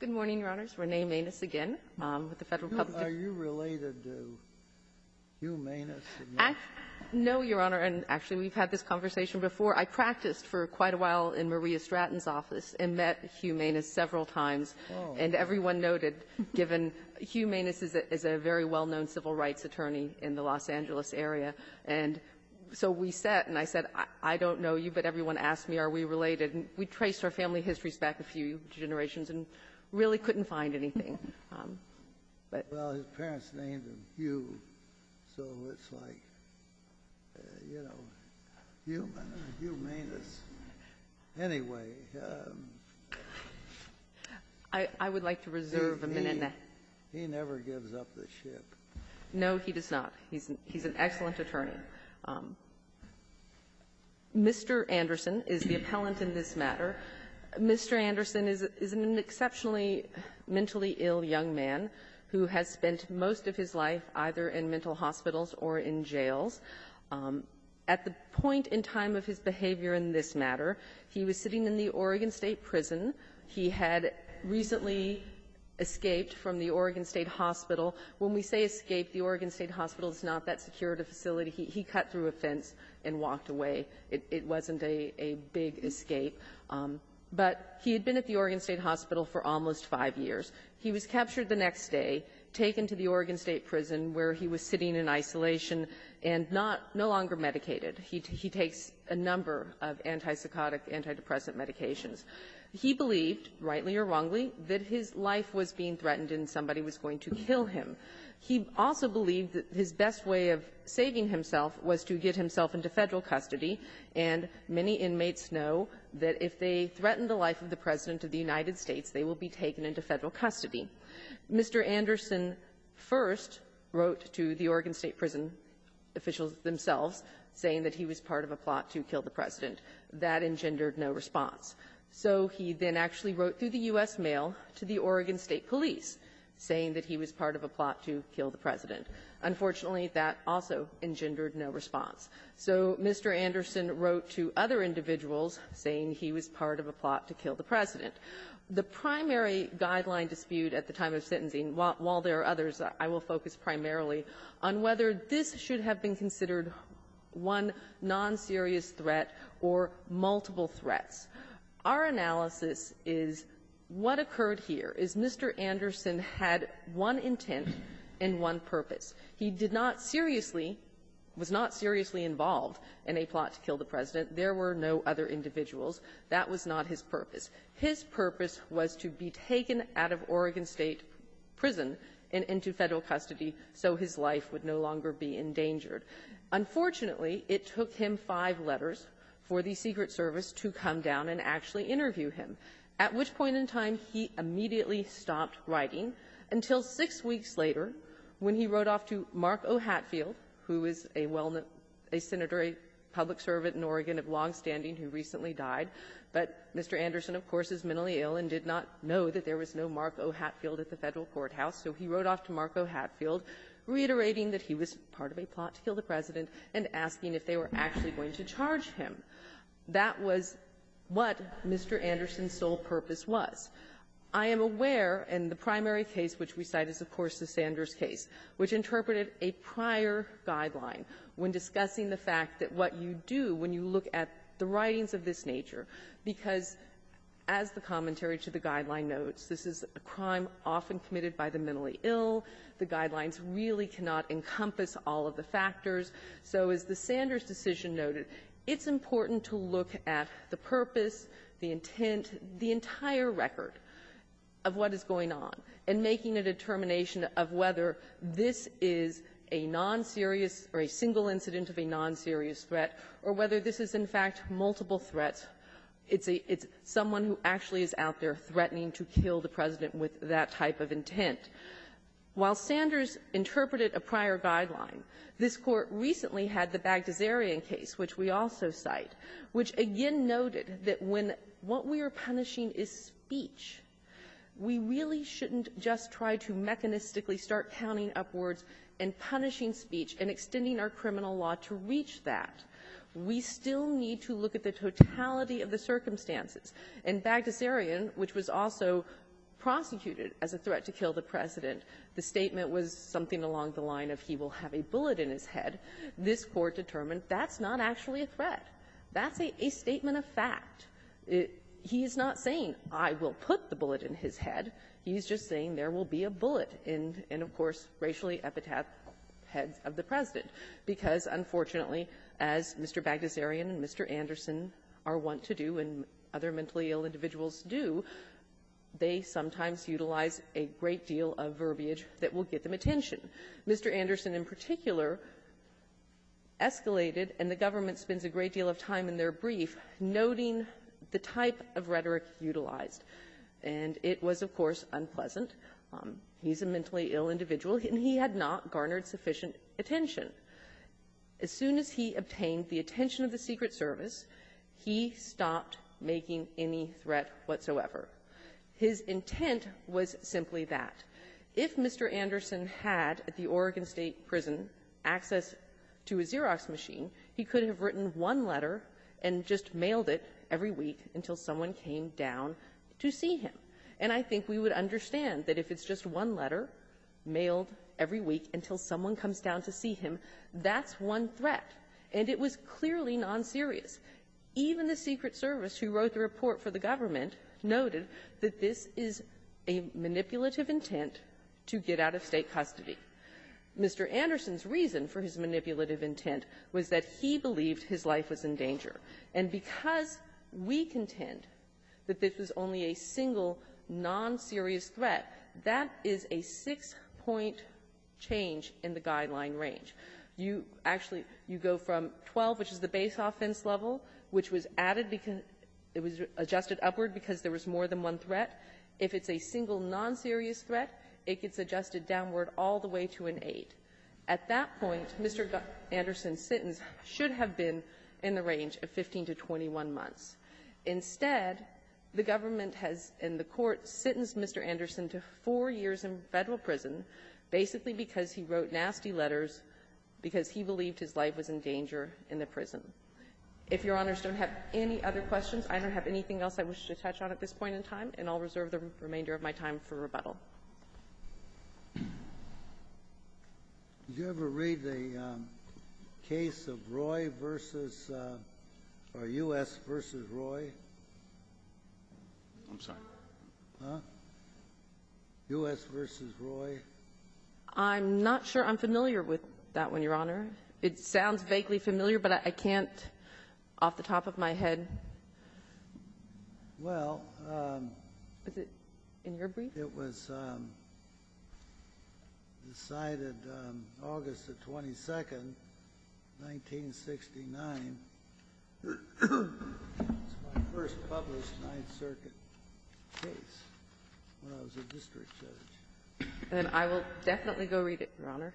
Good morning, Your Honors. Renee Manis again with the Federal Public. Are you related to Hugh Manis? No, Your Honor. And, actually, we've had this conversation before. I practiced for quite a while in Maria Stratton's office and met Hugh Manis several times. Oh. And everyone noted, given Hugh Manis is a very well-known civil rights attorney in the Los Angeles area. And so we sat and I said, I don't know you, but everyone asked me, are we related? And we traced our family histories back a few generations. And really couldn't find anything. But — Well, his parents named him Hugh, so it's like, you know, Hugh Manis. Anyway — I would like to reserve a minute and a half. He never gives up the ship. No, he does not. He's an excellent attorney. Mr. Anderson is the appellant in this matter. Mr. Anderson is an exceptionally mentally ill young man who has spent most of his life either in mental hospitals or in jails. At the point in time of his behavior in this matter, he was sitting in the Oregon State Prison. He had recently escaped from the Oregon State Hospital. When we say escaped, the Oregon State Hospital is not that secure of a facility. He cut through a fence and walked away. It wasn't a big escape. But he had been at the Oregon State Hospital for almost five years. He was captured the next day, taken to the Oregon State Prison where he was sitting in isolation, and not — no longer medicated. He takes a number of antipsychotic, antidepressant medications. He believed, rightly or wrongly, that his life was being threatened and somebody was going to kill him. He also believed that his best way of saving himself was to get himself into Federal custody. And many inmates know that if they threaten the life of the President of the United States, they will be taken into Federal custody. Mr. Anderson first wrote to the Oregon State Prison officials themselves saying that he was part of a plot to kill the President. That engendered no response. So he then actually wrote through the U.S. Mail to the Oregon State Police saying that he was part of a plot to kill the President. Unfortunately, that also engendered no response. So Mr. Anderson wrote to other individuals saying he was part of a plot to kill the President. The primary guideline dispute at the time of sentencing, while there are others, I will focus primarily on whether this should have been considered one non-serious threat or multiple threats. Our analysis is what occurred here is Mr. Anderson had one intent and one purpose. He did not seriously was not seriously involved in a plot to kill the President. There were no other individuals. That was not his purpose. His purpose was to be taken out of Oregon State Prison and into Federal custody so his life would no longer be endangered. Unfortunately, it took him five letters for the Secret Service to come down and actually interview him, at which point in time he immediately stopped writing until six weeks later when he wrote off to Mark O. Hatfield, who is a well-known – a senator, a public servant in Oregon of longstanding who recently died. But Mr. Anderson, of course, is mentally ill and did not know that there was no Mark O. Hatfield at the Federal courthouse. So he wrote off to Mark O. Hatfield, reiterating that he was part of a plot to kill the President and asking if they were actually going to charge him. That was what Mr. Anderson's sole purpose was. I am aware, and the primary case which we cite is, of course, the Sanders case, which interpreted a prior guideline when discussing the fact that what you do when you look at the writings of this nature, because as the commentary to the guideline notes, this is a crime often committed by the mentally ill. The guidelines really cannot encompass all of the factors. So as the Sanders decision noted, it's important to look at the purpose, the intent, the entire record of what is going on, and making a determination of whether this is a non-serious or a single incident of a non-serious threat, or whether this is, in fact, multiple threats. It's a — it's someone who actually is out there threatening to kill the President with that type of intent. While Sanders interpreted a prior guideline, this Court recently had the Bagtasarian case, which we also cite, which again noted that when what we are punishing is speech, we really shouldn't just try to mechanistically start counting up words and punishing speech and extending our criminal law to reach that. We still need to look at the totality of the circumstances. In Bagtasarian, which was also prosecuted as a threat to kill the President, the statement was something along the line of he will have a bullet in his head. This Court determined that's not actually a threat. That's a statement of fact. It — he's not saying I will put the bullet in his head. He's just saying there will be a bullet in — in, of course, racially epitaphed because, unfortunately, as Mr. Bagtasarian and Mr. Anderson are wont to do, and other mentally ill individuals do, they sometimes utilize a great deal of verbiage that will get them attention. Mr. Anderson, in particular, escalated, and the government spends a great deal of time in their brief noting the type of rhetoric utilized. And it was, of course, unpleasant. He's a mentally ill individual, and he had not garnered sufficient attention. As soon as he obtained the attention of the Secret Service, he stopped making any threat whatsoever. His intent was simply that. If Mr. Anderson had, at the Oregon State Prison, access to a Xerox machine, he could have written one letter and just mailed it every week until someone came down to see him. And I think we would understand that if it's just one letter mailed every week until someone comes down to see him, that's one threat. And it was clearly nonserious. Even the Secret Service, who wrote the report for the government, noted that this is a manipulative intent to get out of State custody. Mr. Anderson's reason for his manipulative intent was that he believed his life was in danger. And because we contend that this was only a single, nonserious threat, that is a six-point change in the guideline range. You actually go from 12, which is the base offense level, which was added because it was adjusted upward because there was more than one threat. If it's a single, nonserious threat, it gets adjusted downward all the way to an 8. At that point, Mr. Anderson's sentence should have been in the range of 15 to 21 months. Instead, the government has, in the Court, sentenced Mr. Anderson to four years in Federal prison, basically because he wrote nasty letters, because he believed his life was in danger in the prison. If Your Honors don't have any other questions, I don't have anything else I wish to touch on at this point in time, and I'll reserve the remainder of my time for rebuttal. Did you ever read the case of Roy v. — or U.S. v. Roy? I'm sorry? Huh? U.S. v. Roy? I'm not sure I'm familiar with that one, Your Honor. It sounds vaguely familiar, but I can't, off the top of my head. Well — Was it in your brief? It was decided August the 22nd, 1969. It's my first published Ninth Circuit case when I was a district judge. Then I will definitely go read it, Your Honor.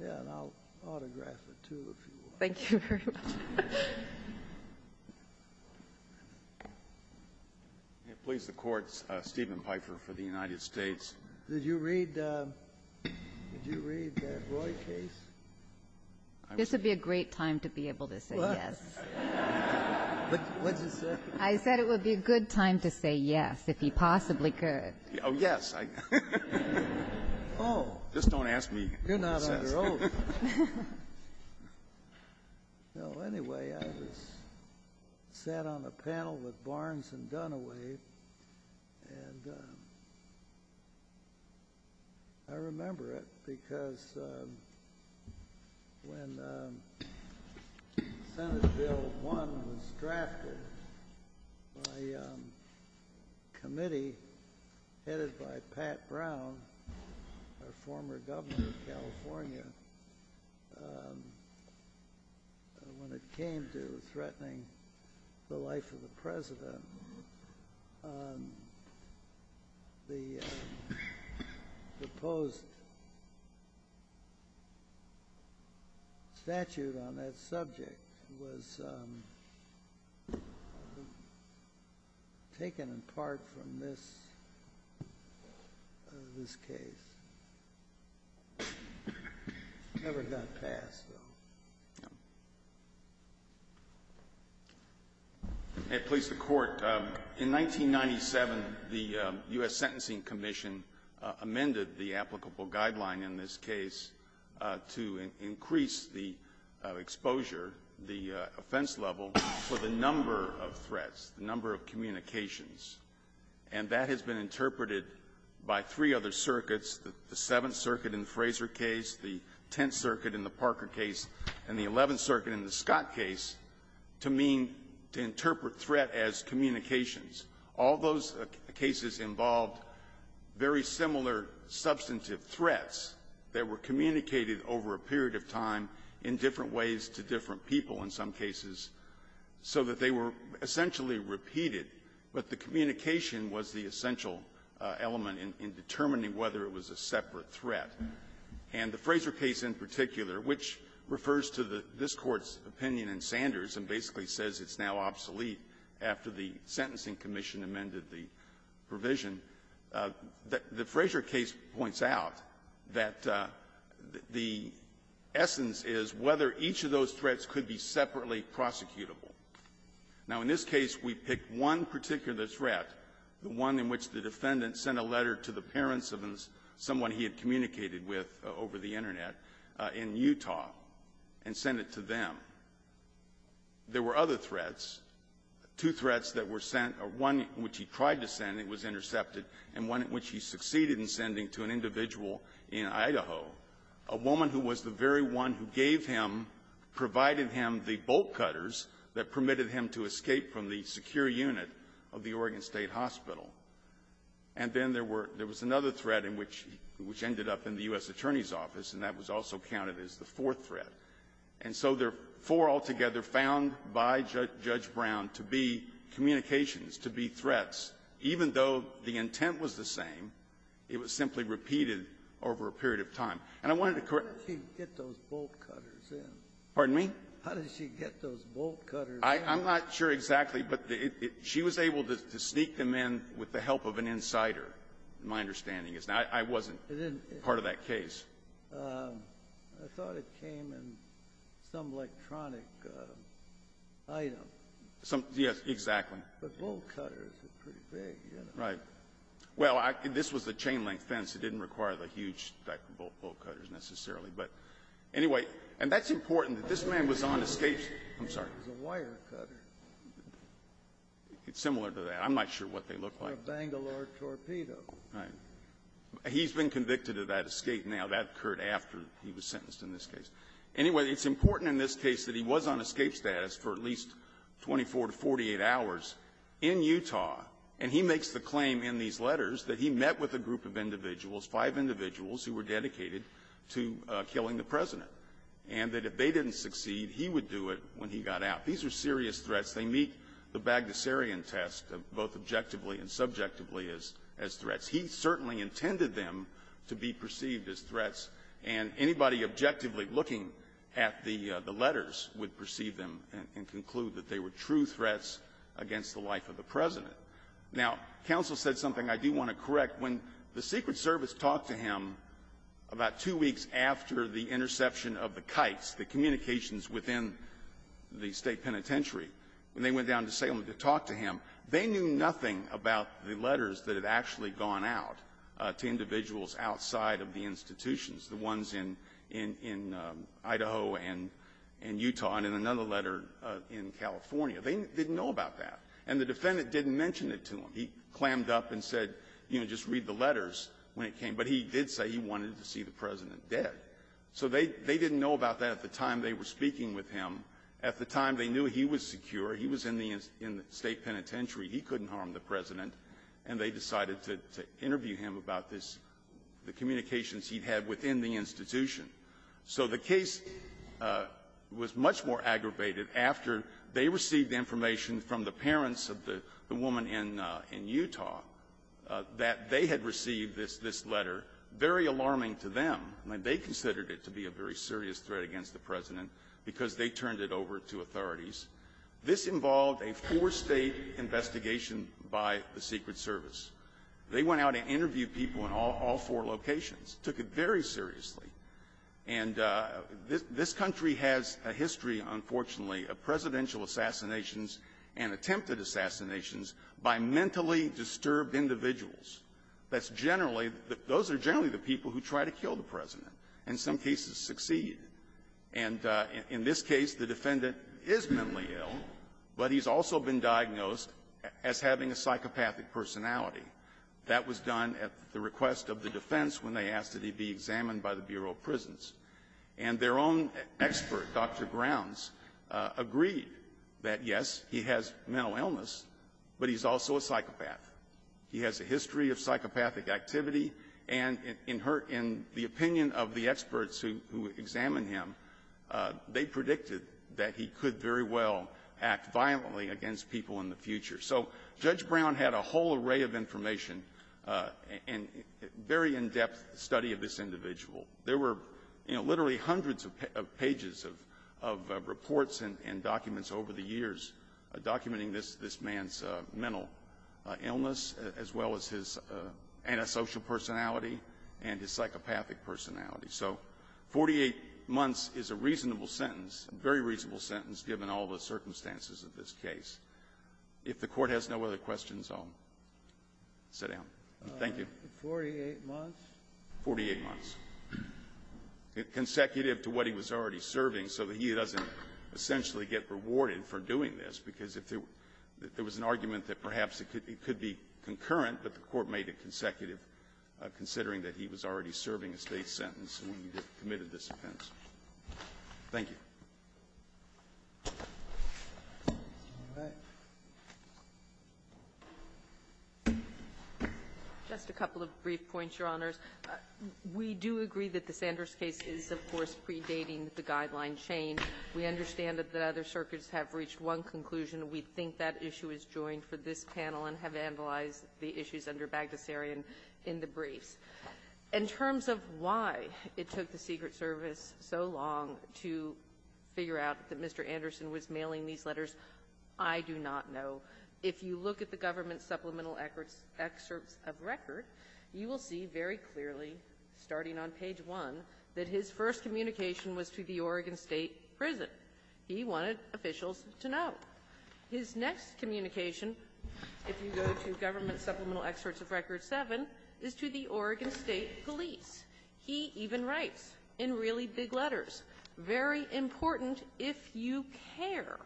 Yeah, and I'll autograph it, too, if you want. Thank you very much. May it please the Court, Stephen Pfeiffer for the United States. Did you read the Roy case? This would be a great time to be able to say yes. What did you say? I said it would be a good time to say yes, if he possibly could. Oh, yes. Oh. Just don't ask me what it says. You're not under oath. Well, anyway, I was sat on a panel with Barnes and Dunaway, and I remember it because when Senate Bill 1 was drafted, my committee, headed by Pat Brown, our former governor of California, when it came to threatening the life of the president, the proposed statute on that subject was taken apart from this case. It never got passed, though. Thank you. May it please the Court. In 1997, the U.S. Sentencing Commission amended the applicable guideline in this case to increase the exposure, the offense level, for the number of threats, the number of communications. And that has been interpreted by three other circuits, the Seventh Circuit in the Scott case, to mean to interpret threat as communications. All those cases involved very similar substantive threats that were communicated over a period of time in different ways to different people in some cases so that they were essentially repeated, but the communication was the essential element in determining whether it was a separate threat. And the Fraser case in particular, which refers to this Court's opinion in Sanders and basically says it's now obsolete after the Sentencing Commission amended the provision, the Fraser case points out that the essence is whether each of those threats could be separately prosecutable. Now, in this case, we picked one particular threat, the one in which the defendant sent a letter to the parents of someone he had communicated with over the Internet in Utah and sent it to them. There were other threats, two threats that were sent, one which he tried to send and was intercepted, and one in which he succeeded in sending to an individual in Idaho, a woman who was the very one who gave him, provided him the bolt cutters that permitted him to escape from the secure unit of the Oregon State Hospital. And then there were, there was another threat in which, which ended up in the U.S. Attorney's Office, and that was also counted as the fourth threat. And so there were four altogether found by Judge Brown to be communications, to be threats, even though the intent was the same, it was simply repeated over a period of time. And I wanted to correct you. Scalia. How did she get those bolt cutters in? Gannon. Pardon me? Scalia. How did she get those bolt cutters in? I'm not sure exactly, but she was able to sneak them in with the help of an insider, my understanding is. Now, I wasn't part of that case. Gannon. I thought it came in some electronic item. Yes, exactly. Gannon. But bolt cutters are pretty big, you know. Right. Well, this was a chain-link fence. It didn't require the huge type of bolt cutters necessarily, but anyway, and that's important that this man was on escape, I'm sorry. It was a wire cutter. It's similar to that. I'm not sure what they look like. Or a Bangalore torpedo. Right. He's been convicted of that escape now. That occurred after he was sentenced in this case. Anyway, it's important in this case that he was on escape status for at least 24 to 48 hours in Utah, and he makes the claim in these letters that he met with a group of individuals, five individuals who were dedicated to killing the President, and that if they didn't succeed, he would do it when he got out. These are serious threats. They meet the Bagdasarian test of both objectively and subjectively as threats. He certainly intended them to be perceived as threats, and anybody objectively looking at the letters would perceive them and conclude that they were true threats against the life of the President. Now, counsel said something I do want to correct. When the Secret Service talked to him about two weeks after the interception of the kites, the communications within the State Penitentiary, when they went down to Salem to talk to him, they knew nothing about the letters that had actually gone out to individuals outside of the institutions, the ones in Idaho and Utah and in another letter in California. They didn't know about that. And the defendant didn't mention it to him. He clammed up and said, you know, just read the letters when it came. But he did say he wanted to see the President dead. So they didn't know about that at the time they were speaking with him. At the time, they knew he was secure. He was in the State Penitentiary. He couldn't harm the President. And they decided to interview him about this, the communications he'd had within the institution. So the case was much more aggravated after they received information from the parents of the woman in Utah that they had received this letter, very alarming to them. I mean, they considered it to be a very serious threat against the President because they turned it over to authorities. This involved a four-state investigation by the Secret Service. They went out and interviewed people in all four locations, took it very seriously. And this country has a history, unfortunately, of presidential assassinations and attempted assassinations by mentally disturbed individuals. That's generally the – those are generally the people who try to kill the President and in some cases succeed. And in this case, the defendant is mentally ill, but he's also been diagnosed as having a psychopathic personality. That was done at the request of the defense when they asked that he be examined by the Bureau of Prisons. And their own expert, Dr. Grounds, agreed that, yes, he has mental illness, but he's also a psychopath. He has a history of psychopathic activity, and in her – in the opinion of the experts who examined him, they predicted that he could very well act violently against people in the future. So Judge Brown had a whole array of information and very in-depth study of this individual. There were literally hundreds of pages of reports and documents over the years documenting this man's mental illness, as well as his antisocial personality and his psychopathic personality. So 48 months is a reasonable sentence, a very reasonable sentence, given all the circumstances of this case. If the Court has no other questions, I'll sit down. Thank you. Breyer. 48 months? 48 months. Consecutive to what he was already serving, so that he doesn't essentially get rewarded for doing this, because if there was an argument that perhaps it could be concurrent, but the Court made it consecutive considering that he was already serving a State sentence when he committed this offense. Thank you. Sotomayor. Just a couple of brief points, Your Honors. We do agree that the Sanders case is, of course, predating the Guideline change. We understand that the other circuits have reached one conclusion. We think that issue is joined for this panel and have analyzed the issues under Bagdasarian in the briefs. In terms of why it took the Secret Service so long to figure out that Mr. Anderson was mailing these letters, I do not know. If you look at the Government Supplemental Excerpts of Record, you will see very clearly, starting on page 1, that his first communication was to the Oregon State prison. He wanted officials to know. His next communication, if you go to Government Supplemental Excerpts of Record 7, is to the Oregon State police. He even writes in really big letters, very important if you care.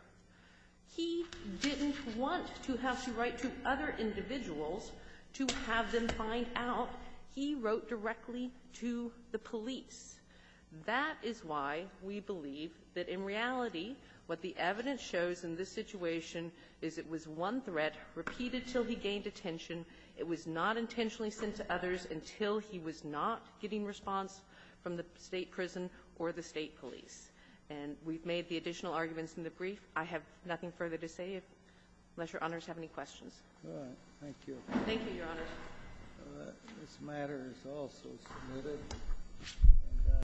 He didn't want to have to write to other individuals to have them find out. He wrote directly to the police. That is why we believe that in reality, what the evidence shows in this situation is it was one threat repeated until he gained attention. It was not intentionally sent to others until he was not getting response from the State prison or the State police. And we've made the additional arguments in the brief. I have nothing further to say unless Your Honors have any questions. Thank you. Thank you, Your Honors. This matter is also submitted.